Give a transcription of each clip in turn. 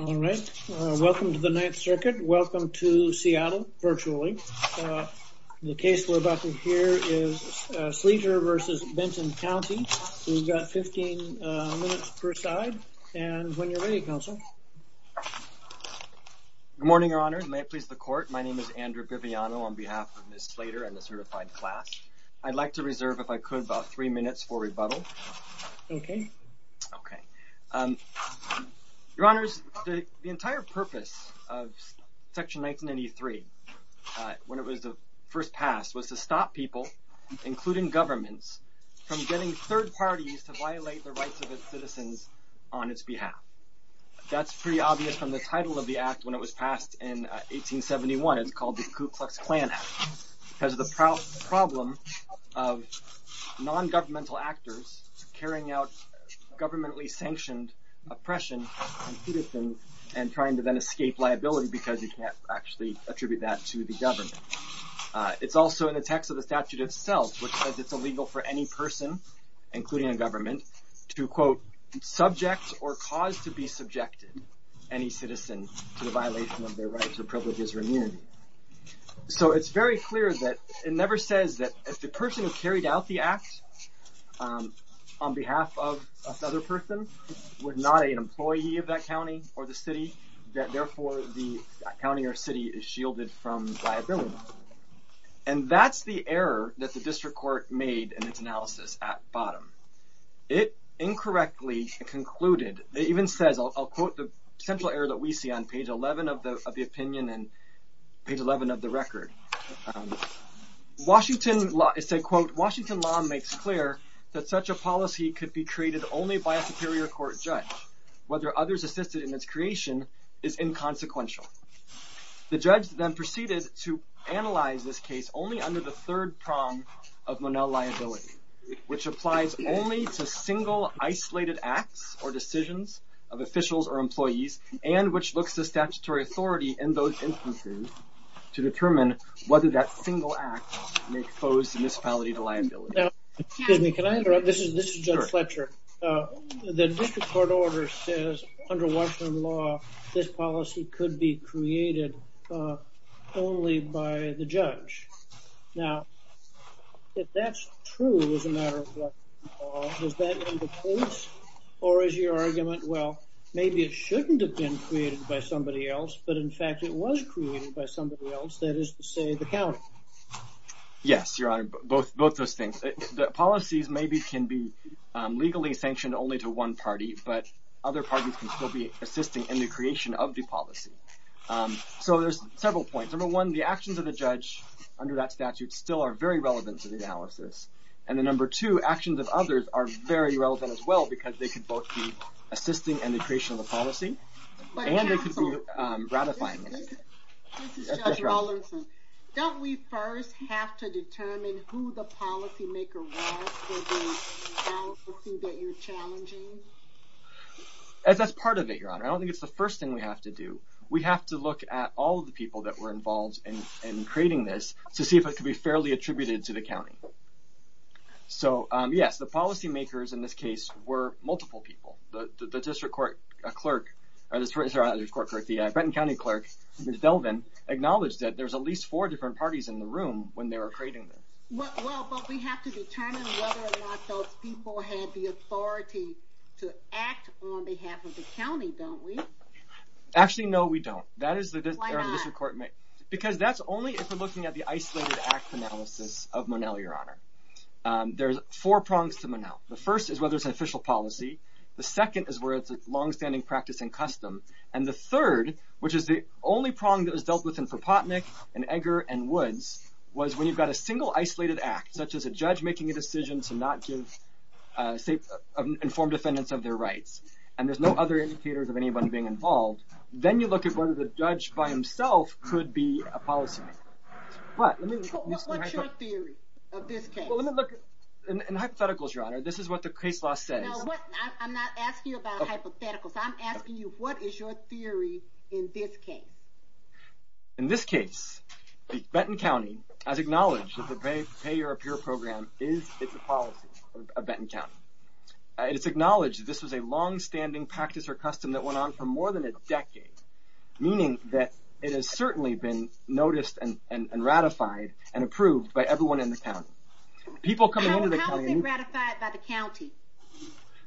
All right. Welcome to the Ninth Circuit. Welcome to Seattle, virtually. The case we're about to hear is Sleater v. Benton County. We've got 15 minutes per side. And when you're ready, Counsel. Good morning, Your Honor. May it please the Court. My name is Andrew Biviano on behalf of Ms. Slater and the certified class. I'd like to reserve, if I could, about three minutes for rebuttal. Okay. Okay. Your Honors, the entire purpose of Section 1993, when it was first passed, was to stop people, including governments, from getting third parties to violate the rights of its citizens on its behalf. That's pretty obvious from the title of the Act when it was passed in 1871. It's called the Ku Klux Klan Act. Because of the problem of non-governmental actors carrying out governmentally sanctioned oppression, including, and trying to then escape liability, because you can't actually attribute that to the government. It's also in the text of the statute itself, which says it's illegal for any person, including a government, to, quote, subject or cause to be subjected any citizen to the violation of their rights or privileges or immunity. So it's very clear that it never says that if the person who carried out the act on behalf of another person was not an employee of that county or the city, that therefore the county or city is shielded from liability. And that's the error that the District Court made in its analysis at bottom. It incorrectly concluded, it even says, I'll quote the central error that we see on page 11 of the opinion, and page 11 of the record. Washington law, it said, quote, Washington law makes clear that such a policy could be created only by a superior court judge. Whether others assisted in its creation is inconsequential. The judge then proceeded to analyze this case only under the third prong of Monell liability, which applies only to single isolated acts or decisions of officials or employees, and which looks to statutory authority in those instances to determine whether that single act may expose the municipality to liability. Now, excuse me, can I interrupt? This is Judge Fletcher. The District Court order says under Washington law, this policy could be created only by the judge. Now, if that's true as a matter of Washington law, does that end the case? Or is your argument, well, maybe it shouldn't have been created by somebody else, but in fact it was created by somebody else, that is to say the county? Yes, Your Honor, both those things. Policies maybe can be legally sanctioned only to one party, but other parties can still be assisting in the creation of the policy. So there's several points. Number one, the actions of the judge under that statute still are very relevant to the analysis. And then number two, actions of others are very relevant as well because they can both be assisting in the creation of the policy and they can be ratifying it. This is Judge Rollinson. Don't we first have to determine who the policymaker was for the policy that you're challenging? That's part of it, Your Honor. I don't think it's the first thing we have to do. We have to look at all of the people that were involved in creating this to see if it can be fairly attributed to the county. So, yes, the policymakers in this case were multiple people. The district court clerk, sorry, not the district court clerk, the Brenton County clerk, Ms. Delvin, acknowledged that there's at least four different parties in the room when they were creating this. Well, but we have to determine whether or not those people had the authority to act on behalf of the county, don't we? Actually, no, we don't. Why not? Because that's only if we're looking at the isolated act analysis of Monell, Your Honor. There's four prongs to Monell. The first is whether it's an official policy. The second is whether it's a longstanding practice and custom. And the third, which is the only prong that was dealt with in Propotnick and Edgar and Woods, was when you've got a single isolated act, such as a judge making a decision to not give informed defendants of their rights, and there's no other indicators of anybody being involved, then you look at whether the judge by himself could be a policymaker. What's your theory of this case? In hypotheticals, Your Honor, this is what the case law says. No, I'm not asking you about hypotheticals. I'm asking you what is your theory in this case? In this case, Benton County has acknowledged that the Pay Your Appear program is a policy of Benton County. It's acknowledged this was a longstanding practice or custom that went on for more than a decade, meaning that it has certainly been noticed and ratified and approved by everyone in the county. How is it ratified by the county?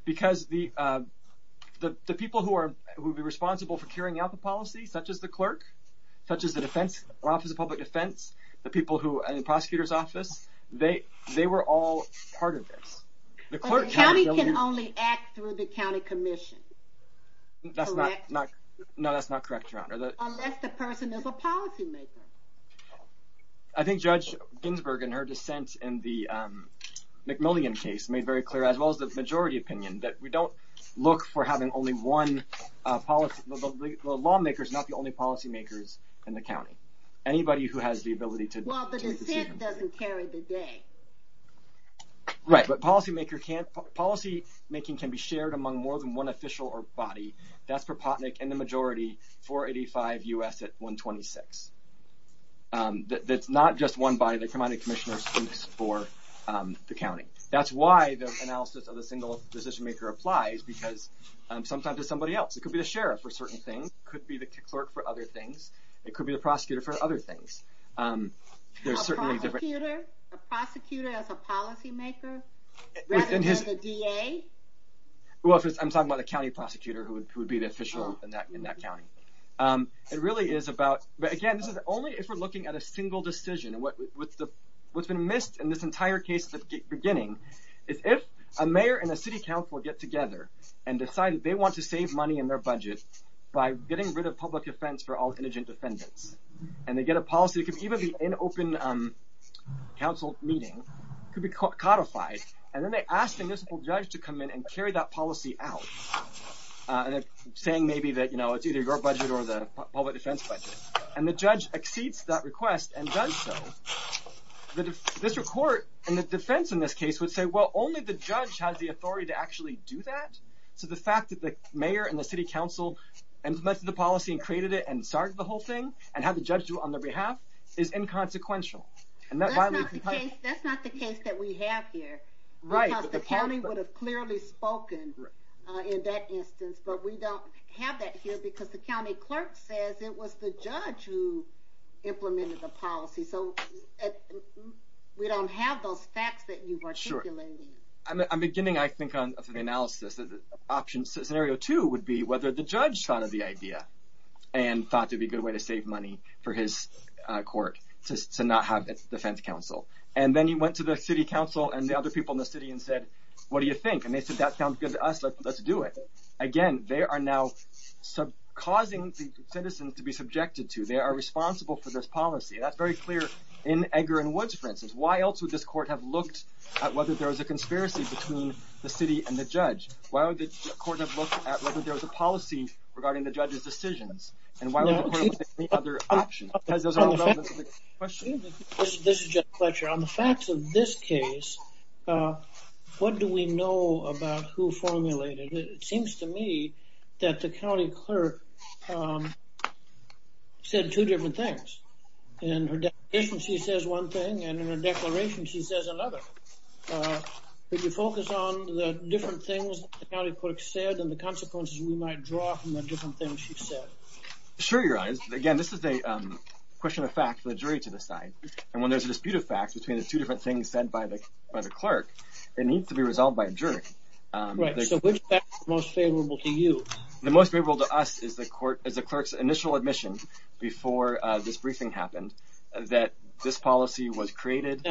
Because the people who would be responsible for carrying out the policy, such as the clerk, such as the Office of Public Defense, the people in the prosecutor's office, they were all part of this. But the county can only act through the county commission, correct? No, that's not correct, Your Honor. Unless the person is a policymaker. I think Judge Ginsburg, in her dissent in the McMillian case, made very clear, as well as the majority opinion, that we don't look for having only one policymaker. The lawmaker is not the only policymaker in the county. Anybody who has the ability to take a decision. Well, the dissent doesn't carry the day. Right, but policymaking can be shared among more than one official or body. That's Propotnick and the majority, 485 U.S. at 126. That's not just one body. They come out of the commissioner's office for the county. That's why the analysis of the single decisionmaker applies, because sometimes it's somebody else. It could be the sheriff for certain things. It could be the clerk for other things. It could be the prosecutor for other things. A prosecutor? A prosecutor as a policymaker? Rather than a DA? Well, I'm talking about a county prosecutor who would be the official in that county. It really is about, but again, this is only if we're looking at a single decision. What's been missed in this entire case at the beginning, is if a mayor and a city council get together and decide that they want to save money in their budget by getting rid of public defense for all indigent defendants, and they get a policy that could even be in an open council meeting, could be codified, and then they ask the municipal judge to come in and carry that policy out, saying maybe that it's either your budget or the public defense budget, and the judge exceeds that request and does so, the district court and the defense in this case would say, well, only the judge has the authority to actually do that. So the fact that the mayor and the city council implemented the policy and created it and started the whole thing, and had the judge do it on their behalf, is inconsequential. That's not the case that we have here. Right, but the county would have clearly spoken in that instance, but we don't have that here because the county clerk says it was the judge who implemented the policy. So we don't have those facts that you are articulating. I'm beginning, I think, on the analysis. Scenario two would be whether the judge thought of the idea and thought it would be a good way to save money for his court to not have a defense council. And then he went to the city council and the other people in the city and said, what do you think? And they said, that sounds good to us, let's do it. Again, they are now causing the citizens to be subjected to, they are responsible for this policy. That's very clear in Edgar and Woods, for instance. Why else would this court have looked at whether there was a conspiracy between the city and the judge? Why would the court have looked at whether there was a policy regarding the judge's decisions? And why would the court have looked at any other option? Because those are all relevant to the question. This is Jeff Fletcher. On the facts of this case, what do we know about who formulated it? It seems to me that the county clerk said two different things. In her declaration she says one thing, and in her declaration she says another. Could you focus on the different things the county clerk said and the consequences we might draw from the different things she said? Sure, Your Honor. Again, this is a question of fact for the jury to decide. And when there's a dispute of fact between the two different things said by the clerk, it needs to be resolved by a jury. Right. So which fact is most favorable to you? The most favorable to us is the clerk's initial admission before this briefing happened that this policy was created.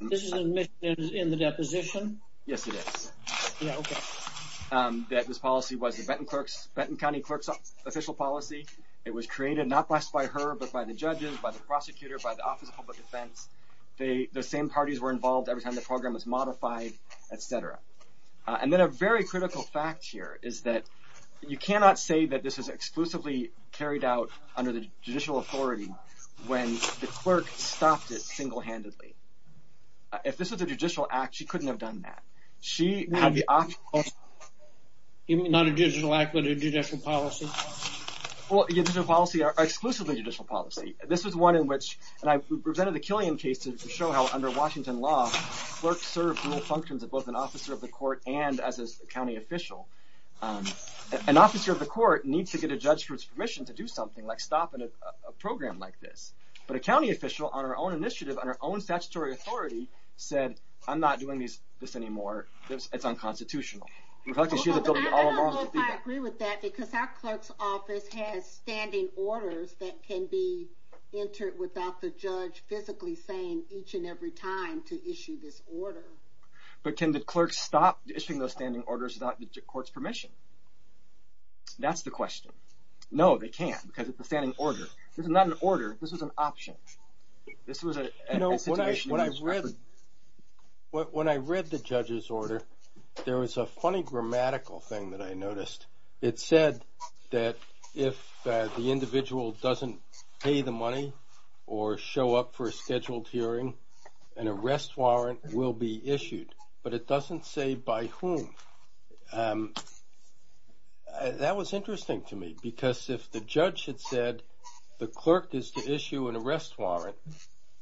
This is an admission in the deposition? Yes, it is. Yeah, okay. That this policy was the Benton County Clerk's official policy. It was created not just by her, but by the judges, by the prosecutor, by the Office of Public Defense. The same parties were involved every time the program was modified, et cetera. And then a very critical fact here is that you cannot say that this was exclusively carried out under the judicial authority when the clerk stopped it single-handedly. If this was a judicial act, she couldn't have done that. Not a judicial act, but a judicial policy? Well, a judicial policy, or exclusively judicial policy. This was one in which, and I presented the Killian case to show how under Washington law, clerks serve dual functions of both an officer of the court and as a county official. An officer of the court needs to get a judge's permission to do something, like stop a program like this. But a county official, on her own initiative, on her own statutory authority, said, I'm not doing this anymore, it's unconstitutional. I don't know if I agree with that, because our clerk's office has standing orders that can be entered without the judge physically saying each and every time to issue this order. But can the clerk stop issuing those standing orders without the court's permission? That's the question. No, they can't, because it's a standing order. This is not an order, this is an option. When I read the judge's order, there was a funny grammatical thing that I noticed. It said that if the individual doesn't pay the money or show up for a scheduled hearing, an arrest warrant will be issued. But it doesn't say by whom. That was interesting to me, because if the judge had said the clerk is to issue an arrest warrant,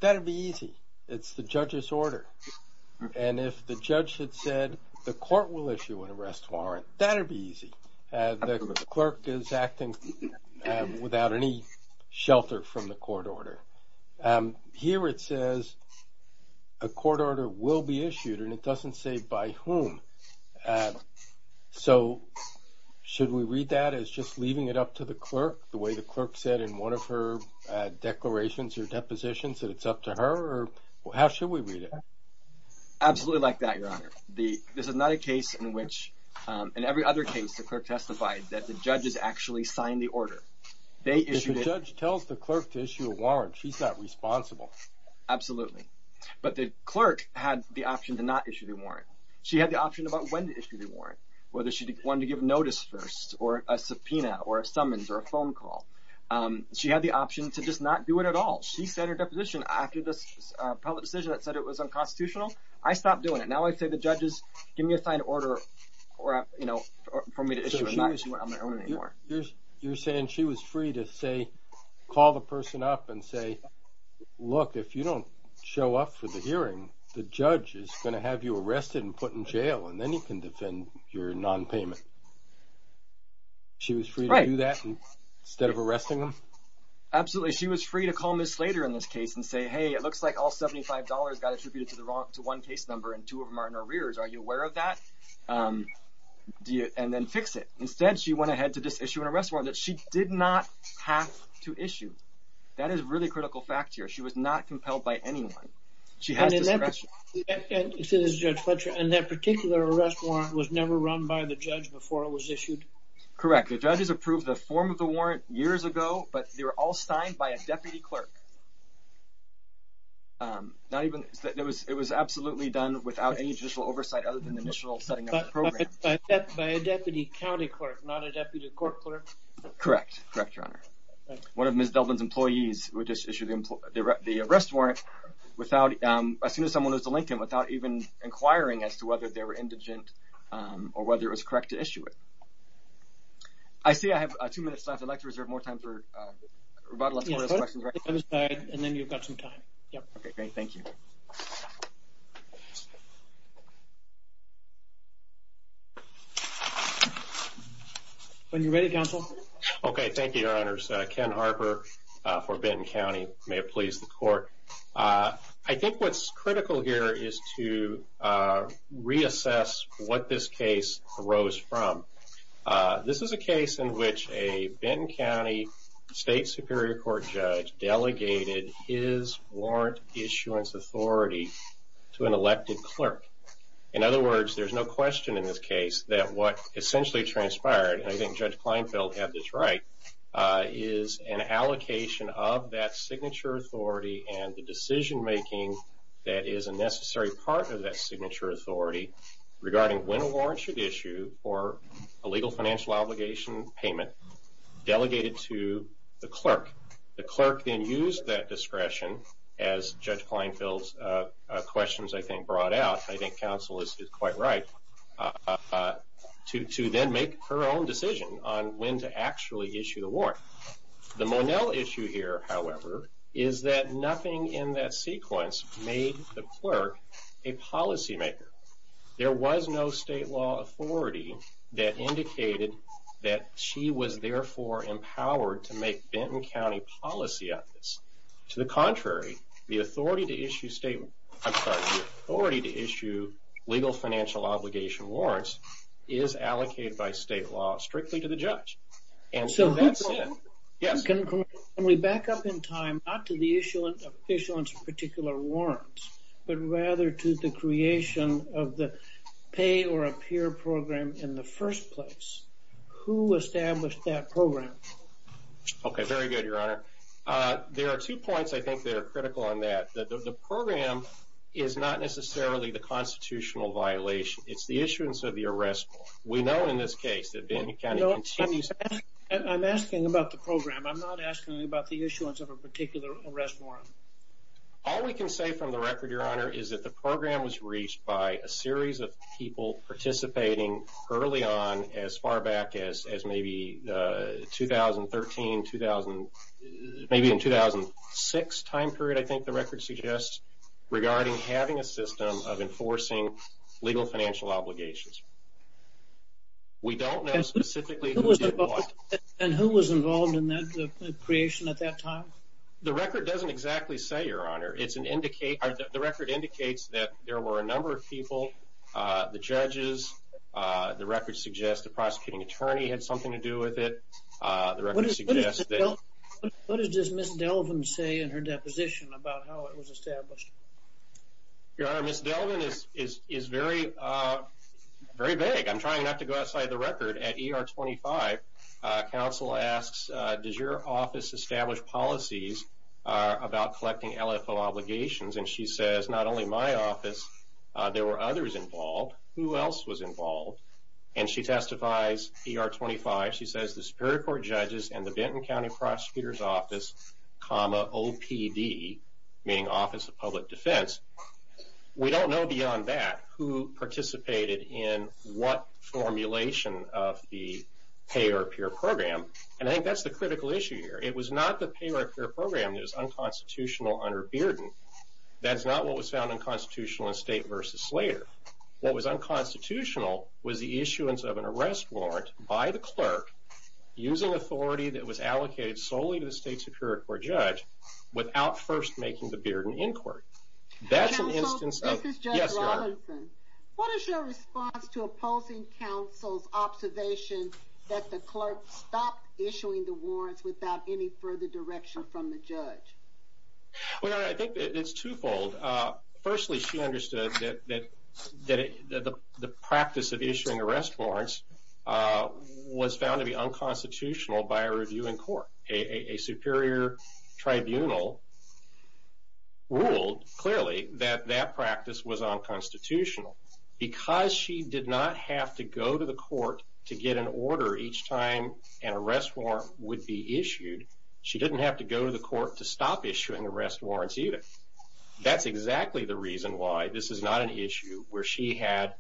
that would be easy. It's the judge's order. And if the judge had said the court will issue an arrest warrant, that would be easy. The clerk is acting without any shelter from the court order. Here it says a court order will be issued, and it doesn't say by whom. So should we read that as just leaving it up to the clerk, the way the clerk said in one of her declarations or depositions that it's up to her, or how should we read it? Absolutely like that, Your Honor. There's another case in which, in every other case, the clerk testified that the judges actually signed the order. If the judge tells the clerk to issue a warrant, she's not responsible. Absolutely. But the clerk had the option to not issue the warrant. She had the option about when to issue the warrant, whether she wanted to give notice first, or a subpoena, or a summons, or a phone call. She had the option to just not do it at all. She said in her deposition, after the public decision that said it was unconstitutional, I stopped doing it. Now I say to the judges, give me a signed order for me to issue a warrant. You're saying she was free to call the person up and say, look, if you don't show up for the hearing, the judge is going to have you arrested and put in jail, and then you can defend your nonpayment. She was free to do that instead of arresting them? Absolutely. She was free to call Ms. Slater in this case and say, hey, it looks like all $75 got attributed to one case number and two of them are in arrears. Are you aware of that? And then fix it. Instead, she went ahead to just issue an arrest warrant that she did not have to issue. That is a really critical fact here. She was not compelled by anyone. She had discretion. And that particular arrest warrant was never run by the judge before it was issued? Correct. The judges approved the form of the warrant years ago, but they were all signed by a deputy clerk. It was absolutely done without any judicial oversight other than the initial setting up of the program. By a deputy county clerk, not a deputy court clerk? Correct, Your Honor. One of Ms. Delvin's employees would just issue the arrest warrant as soon as someone was to link him, without even inquiring as to whether they were indigent or whether it was correct to issue it. I see I have two minutes left. I'd like to reserve more time for rebuttal. And then you've got some time. Okay, great. Thank you. When you're ready, counsel. Okay, thank you, Your Honors. Ken Harper for Benton County. May it please the Court. I think what's critical here is to reassess what this case arose from. This is a case in which a Benton County State Superior Court judge delegated his warrant issuance authority to an elected clerk. In other words, there's no question in this case that what essentially transpired, and I think Judge Kleinfeld had this right, is an allocation of that signature authority and the decision-making that is a necessary part of that signature authority regarding when a warrant should issue for a legal financial obligation payment delegated to the clerk. The clerk then used that discretion, as Judge Kleinfeld's questions, I think, brought out, and I think counsel is quite right, to then make her own decision on when to actually issue the warrant. The Monell issue here, however, is that nothing in that sequence made the clerk a policymaker. There was no state law authority that indicated that she was, therefore, empowered to make Benton County policy on this. To the contrary, the authority to issue state, I'm sorry, the authority to issue legal financial obligation warrants is allocated by state law strictly to the judge. And so that said, yes? Can we back up in time, not to the issuance of particular warrants, but rather to the creation of the pay or appear program in the first place? Who established that program? Okay, very good, Your Honor. There are two points I think that are critical on that. The program is not necessarily the constitutional violation. It's the issuance of the arrest warrant. We know in this case that Benton County continues to have- I'm asking about the program. I'm not asking about the issuance of a particular arrest warrant. All we can say from the record, Your Honor, is that the program was reached by a series of people participating early on, as far back as maybe 2013, maybe in 2006 time period, I think the record suggests, regarding having a system of enforcing legal financial obligations. We don't know specifically who did what. And who was involved in the creation at that time? The record doesn't exactly say, Your Honor. The record indicates that there were a number of people, the judges. The record suggests the prosecuting attorney had something to do with it. The record suggests that- What does Ms. Delvin say in her deposition about how it was established? Your Honor, Ms. Delvin is very vague. I'm trying not to go outside the record. At ER 25, counsel asks, does your office establish policies about collecting LFO obligations? And she says, not only my office, there were others involved. Who else was involved? And she testifies, ER 25, she says, the Superior Court judges and the Benton County Prosecutor's Office, comma, OPD, meaning Office of Public Defense. We don't know beyond that who participated in what formulation of the pay or appear program. And I think that's the critical issue here. It was not the pay or appear program that was unconstitutional under Bearden. That's not what was found unconstitutional in State v. Slater. What was unconstitutional was the issuance of an arrest warrant by the clerk using authority that was allocated solely to the State Superior Court judge without first making the Bearden inquiry. That's an instance of- Counsel, this is Judge Robinson. What is your response to opposing counsel's observation that the clerk stopped issuing the warrants without any further direction from the judge? Well, Your Honor, I think it's twofold. Firstly, she understood that the practice of issuing arrest warrants was found to be unconstitutional by a review in court. A superior tribunal ruled clearly that that practice was unconstitutional. Because she did not have to go to the court to get an order each time an arrest warrant would be issued, she didn't have to go to the court to stop issuing arrest warrants either. That's exactly the reason why this is not an issue where she had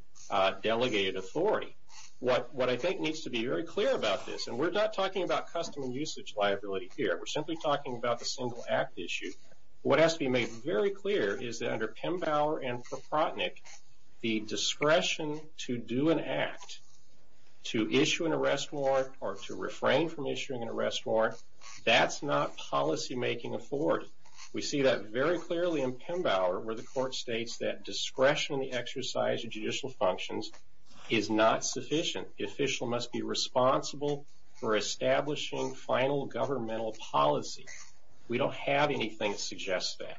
delegated authority. What I think needs to be very clear about this, and we're not talking about custom and usage liability here, we're simply talking about the single act issue, what has to be made very clear is that under Pembauer and Proprotnick, the discretion to do an act, to issue an arrest warrant, or to refrain from issuing an arrest warrant, that's not policymaking authority. We see that very clearly in Pembauer where the court states that discretion in the exercise of judicial functions is not sufficient. The official must be responsible for establishing final governmental policy. We don't have anything that suggests that.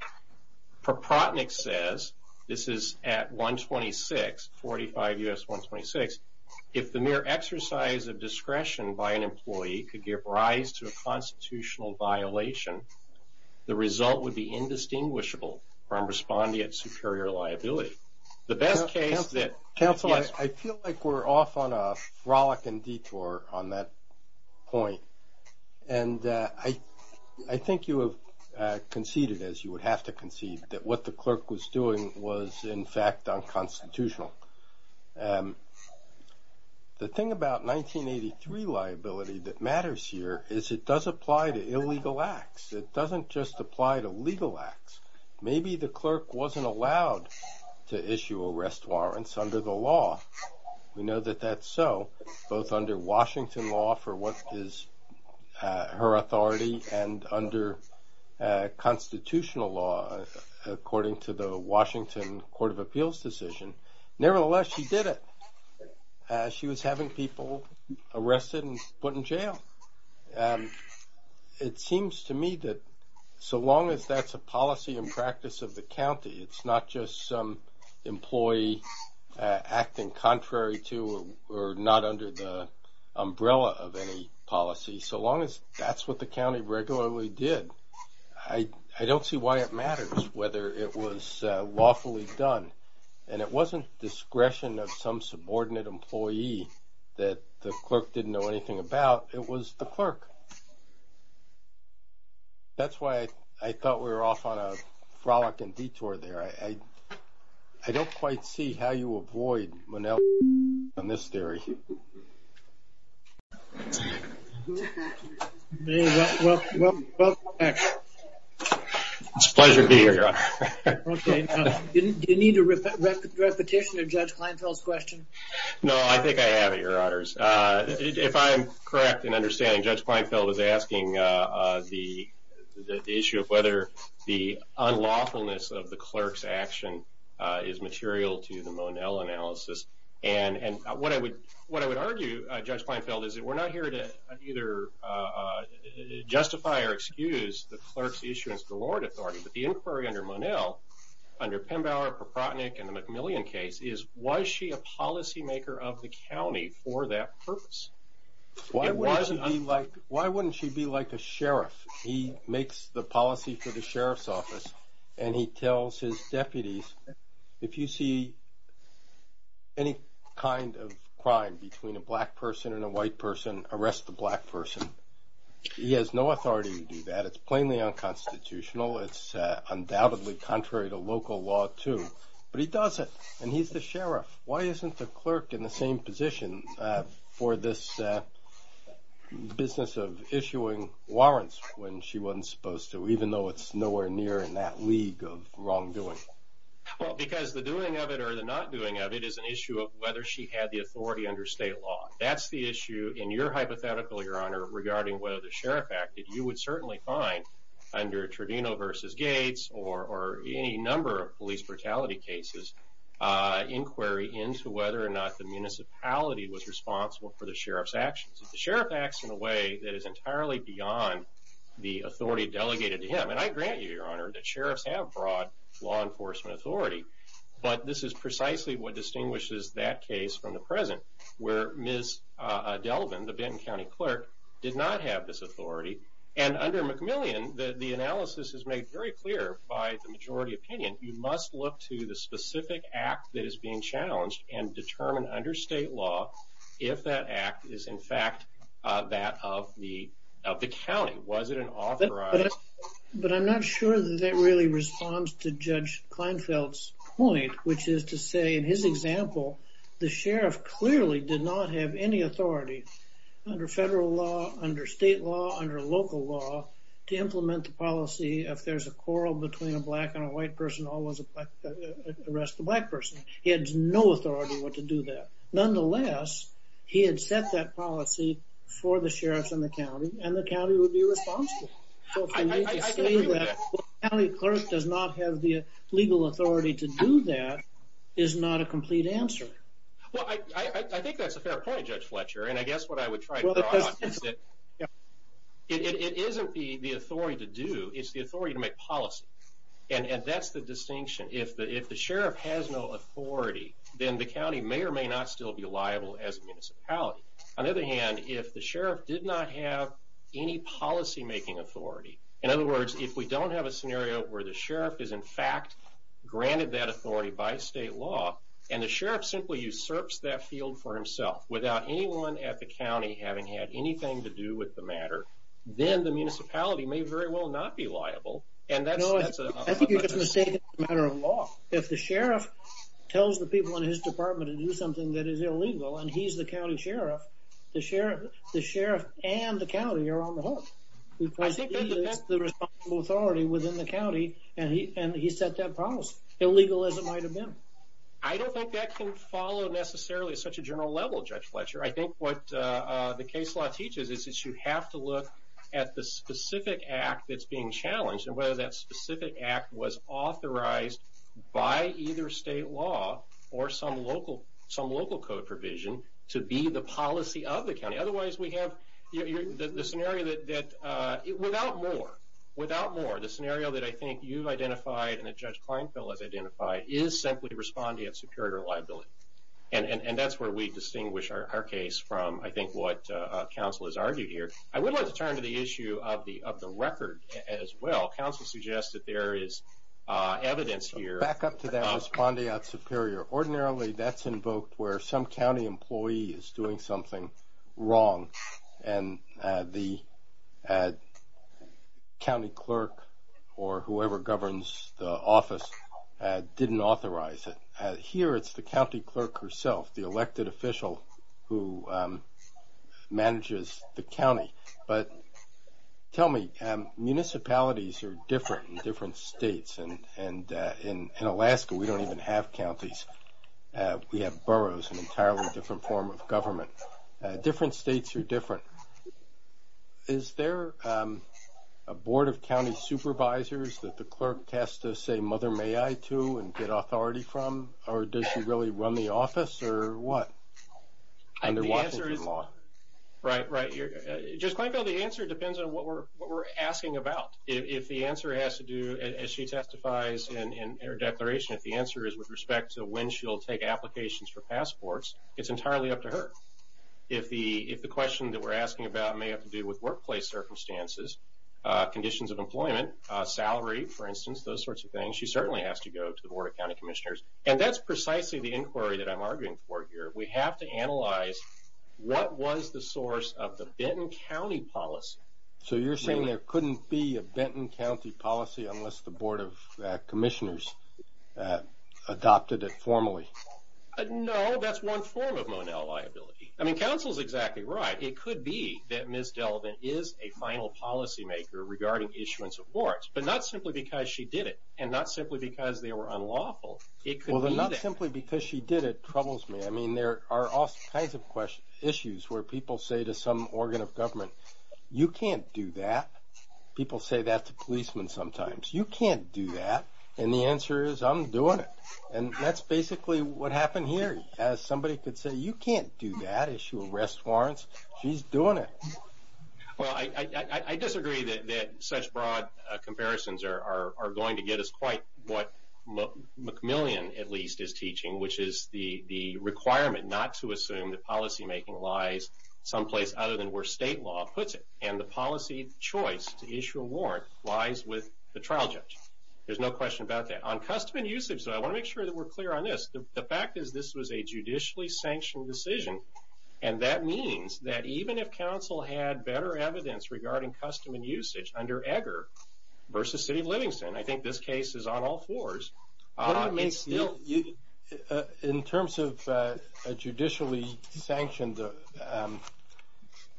Proprotnick says, this is at 126, 45 U.S. 126, if the mere exercise of discretion by an employee could give rise to a constitutional violation, the result would be indistinguishable from responding at superior liability. The best case that- Counsel, I feel like we're off on a frolicking detour on that point, and I think you have conceded, as you would have to concede, that what the clerk was doing was in fact unconstitutional. The thing about 1983 liability that matters here is it does apply to illegal acts. It doesn't just apply to legal acts. Maybe the clerk wasn't allowed to issue arrest warrants under the law. We know that that's so, both under Washington law for what is her authority, and under constitutional law, according to the Washington Court of Appeals decision. Nevertheless, she did it. She was having people arrested and put in jail. It seems to me that so long as that's a policy and practice of the county, it's not just some employee acting contrary to or not under the umbrella of any policy. So long as that's what the county regularly did, I don't see why it matters whether it was lawfully done, and it wasn't discretion of some subordinate employee that the clerk didn't know anything about. It was the clerk. That's why I thought we were off on a frolicking detour there. I don't quite see how you avoid Manel on this theory. Thank you. Welcome back. It's a pleasure to be here, Your Honor. Okay. Do you need a repetition of Judge Kleinfeld's question? No, I think I have it, Your Honors. If I'm correct in understanding, Judge Kleinfeld was asking the issue of whether the unlawfulness of the clerk's action is material to the Manel analysis. And what I would argue, Judge Kleinfeld, is that we're not here to either justify or excuse the clerk's issuance of the Lord Authority, but the inquiry under Manel, under Pembauer, Proprotnick, and the McMillian case, is was she a policymaker of the county for that purpose? Why wouldn't she be like a sheriff? He makes the policy for the sheriff's office, and he tells his deputies, if you see any kind of crime between a black person and a white person, arrest the black person. He has no authority to do that. It's plainly unconstitutional. It's undoubtedly contrary to local law, too. But he does it, and he's the sheriff. Why isn't the clerk in the same position for this business of issuing warrants when she wasn't supposed to, even though it's nowhere near in that league of wrongdoing? Well, because the doing of it or the not doing of it is an issue of whether she had the authority under state law. That's the issue in your hypothetical, Your Honor, regarding whether the sheriff acted. You would certainly find, under Tredino v. Gates or any number of police brutality cases, inquiry into whether or not the municipality was responsible for the sheriff's actions. The sheriff acts in a way that is entirely beyond the authority delegated to him. And I grant you, Your Honor, that sheriffs have broad law enforcement authority. But this is precisely what distinguishes that case from the present, where Ms. Delvin, the Benton County clerk, did not have this authority. And under McMillian, the analysis is made very clear by the majority opinion. You must look to the specific act that is being challenged and determine under state law if that act is, in fact, that of the county. Was it an authorized... But I'm not sure that that really responds to Judge Kleinfeld's point, which is to say, in his example, the sheriff clearly did not have any authority under federal law, under state law, under local law, to implement the policy, if there's a quarrel between a black and a white person, always arrest the black person. He had no authority to do that. Nonetheless, he had set that policy for the sheriffs in the county, and the county would be responsible. So for you to say that the county clerk does not have the legal authority to do that is not a complete answer. Well, I think that's a fair point, Judge Fletcher, and I guess what I would try to draw on is that it isn't the authority to do, it's the authority to make policy. And that's the distinction. If the sheriff has no authority, then the county may or may not still be liable as a municipality. On the other hand, if the sheriff did not have any policymaking authority, in other words, if we don't have a scenario where the sheriff is, in fact, granted that authority by state law, and the sheriff simply usurps that field for himself without anyone at the county having had anything to do with the matter, then the municipality may very well not be liable. I think you're just mistaking it for a matter of law. If the sheriff tells the people in his department to do something that is illegal and he's the county sheriff, the sheriff and the county are on the hook. He is the responsible authority within the county, and he set that policy, illegal as it might have been. I don't think that can follow necessarily at such a general level, Judge Fletcher. I think what the case law teaches is that you have to look at the specific act that's being challenged and whether that specific act was authorized by either state law or some local code provision to be the policy of the county. Otherwise, we have the scenario that without more, the scenario that I think you've identified and that Judge Kleinfeld has identified is simply responding at superior liability. That's where we distinguish our case from, I think, what counsel has argued here. I would like to turn to the issue of the record as well. Counsel suggests that there is evidence here. Back up to that responding at superior. Ordinarily, that's invoked where some county employee is doing something wrong and the county clerk or whoever governs the office didn't authorize it. Here, it's the county clerk herself, the elected official who manages the county. But tell me, municipalities are different in different states. In Alaska, we don't even have counties. We have boroughs, an entirely different form of government. Different states are different. Is there a board of county supervisors that the clerk has to say, or does she really run the office or what under Washington law? Right, right. Judge Kleinfeld, the answer depends on what we're asking about. If the answer has to do, as she testifies in her declaration, if the answer is with respect to when she'll take applications for passports, it's entirely up to her. If the question that we're asking about may have to do with workplace circumstances, conditions of employment, salary, for instance, those sorts of things, then she certainly has to go to the board of county commissioners. And that's precisely the inquiry that I'm arguing for here. We have to analyze what was the source of the Benton County policy. So you're saying there couldn't be a Benton County policy unless the board of commissioners adopted it formally? No, that's one form of Monell liability. I mean, counsel's exactly right. It could be that Ms. Delvin is a final policymaker regarding issuance of warrants, but not simply because she did it and not simply because they were unlawful. It could be that. Well, the not simply because she did it troubles me. I mean, there are all kinds of issues where people say to some organ of government, you can't do that. People say that to policemen sometimes. You can't do that. And the answer is, I'm doing it. And that's basically what happened here. As somebody could say, you can't do that, issue arrest warrants. She's doing it. Well, I disagree that such broad comparisons are going to get us quite what McMillian, at least, is teaching, which is the requirement not to assume that policymaking lies someplace other than where state law puts it. And the policy choice to issue a warrant lies with the trial judge. There's no question about that. On custom and usage, though, I want to make sure that we're clear on this. The fact is this was a judicially sanctioned decision, and that means that even if counsel had better evidence regarding custom and usage under Egger versus City of Livingston, I think this case is on all fours. In terms of a judicially sanctioned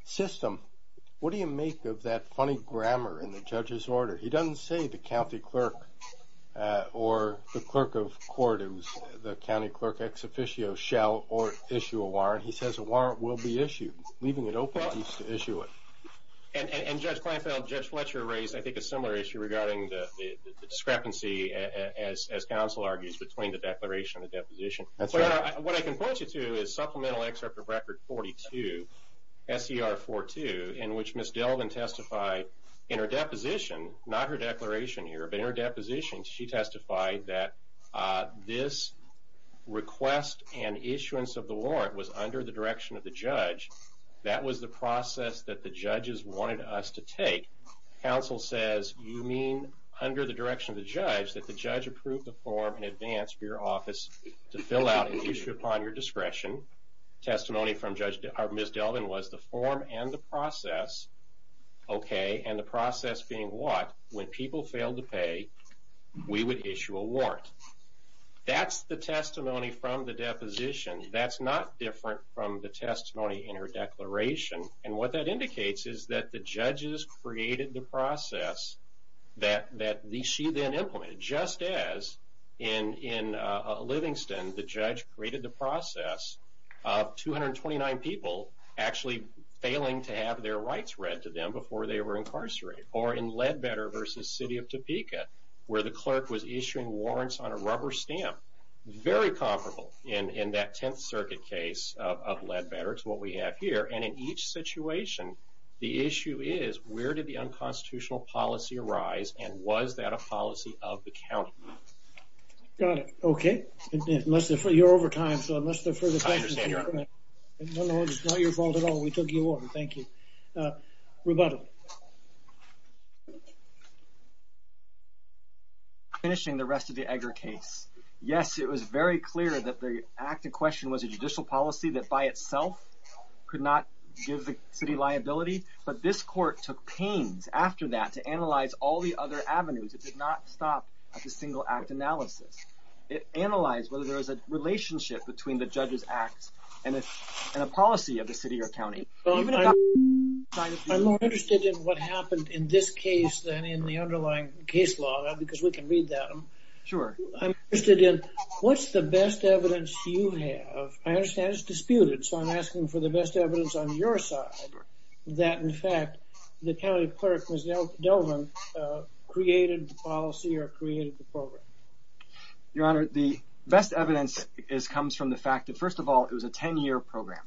system, what do you make of that funny grammar in the judge's order? He doesn't say the county clerk or the clerk of court, who's the county clerk ex officio, shall or issue a warrant. He says a warrant will be issued, leaving it open to issue it. And, Judge Kleinfeld, Judge Fletcher raised, I think, a similar issue regarding the discrepancy, as counsel argues, between the declaration and the deposition. That's right. What I can point you to is Supplemental Excerpt of Record 42, S.E.R. 42, in which Ms. Delvin testified in her deposition, not her declaration here, but in her deposition, she testified that this request and issuance of the warrant was under the direction of the judge. That was the process that the judges wanted us to take. Counsel says you mean under the direction of the judge that the judge approved the form in advance for your office to fill out and issue upon your discretion. Testimony from Ms. Delvin was the form and the process, okay, and the process being what? When people failed to pay, we would issue a warrant. That's the testimony from the deposition. That's not different from the testimony in her declaration. And what that indicates is that the judges created the process that she then implemented. Just as in Livingston, the judge created the process of 229 people actually failing to have their rights read to them before they were incarcerated, or in Leadbetter v. City of Topeka, where the clerk was issuing warrants on a rubber stamp, very comparable in that Tenth Circuit case of Leadbetter to what we have here. And in each situation, the issue is where did the unconstitutional policy arise, and was that a policy of the county? Got it, okay. You're over time, so unless there are further questions, No, no, it's not your fault at all. We took you on. Thank you. Rebuttal. Finishing the rest of the Egger case. Yes, it was very clear that the act in question was a judicial policy that by itself could not give the city liability, but this court took pains after that to analyze all the other avenues. It did not stop at the single act analysis. It analyzed whether there was a relationship between the judge's act and a policy of the city or county. I'm more interested in what happened in this case than in the underlying case law, because we can read that. Sure. I'm interested in what's the best evidence you have. I understand it's disputed, so I'm asking for the best evidence on your side that, in fact, the county clerk, Ms. Delvin, created the policy or created the program. Your Honor, the best evidence comes from the fact that, first of all, it was a 10-year program.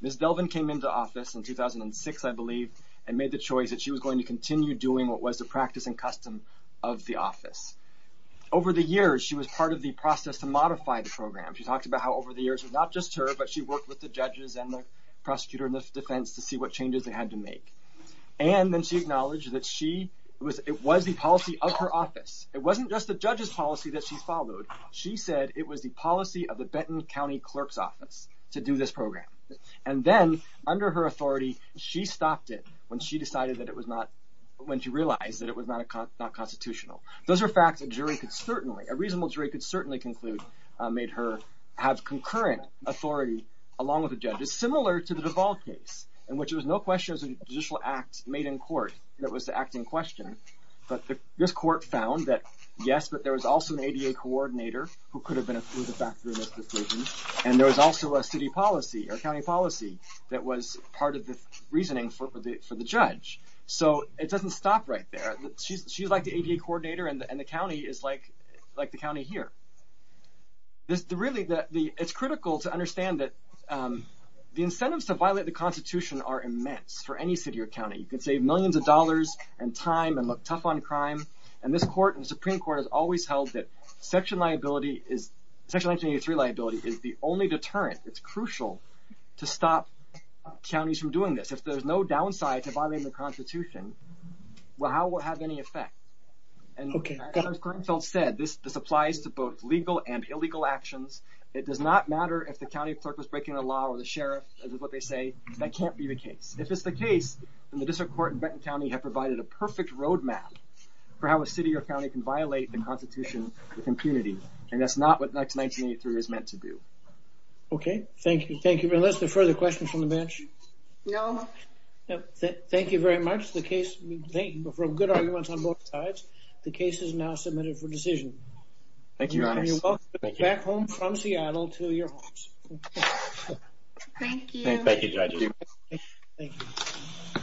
Ms. Delvin came into office in 2006, I believe, and made the choice that she was going to continue doing what was the practice and custom of the office. Over the years, she was part of the process to modify the program. She talked about how over the years, not just her, but she worked with the judges and the prosecutor and the defense to see what changes they had to make. And then she acknowledged that it was the policy of her office. It wasn't just the judge's policy that she followed. She said it was the policy of the Benton County Clerk's Office to do this program. And then, under her authority, she stopped it when she realized that it was not constitutional. Those are facts that a reasonable jury could certainly conclude made her have concurrent authority along with the judges, which is similar to the Duval case, in which there was no question it was a judicial act made in court that was to act in question. But this court found that, yes, but there was also an ADA coordinator who could have been a factor in this decision, and there was also a city policy or county policy that was part of the reasoning for the judge. So it doesn't stop right there. She's like the ADA coordinator, and the county is like the county here. It's critical to understand that the incentives to violate the Constitution are immense for any city or county. You can save millions of dollars and time and look tough on crime, and this Supreme Court has always held that Section 1983 liability is the only deterrent. It's crucial to stop counties from doing this. If there's no downside to violating the Constitution, how will it have any effect? And as Glenn said, this applies to both legal and illegal actions. It does not matter if the county clerk was breaking the law or the sheriff, as is what they say. That can't be the case. If it's the case, then the district court in Benton County have provided a perfect roadmap for how a city or county can violate the Constitution with impunity, and that's not what Section 1983 is meant to do. Okay, thank you. Unless there are further questions from the bench? No. Thank you very much. That's the case. We've heard good arguments on both sides. The case is now submitted for decision. Thank you, Your Honor. You're welcome. Back home from Seattle to your homes. Thank you. Thank you, Judge. Thank you.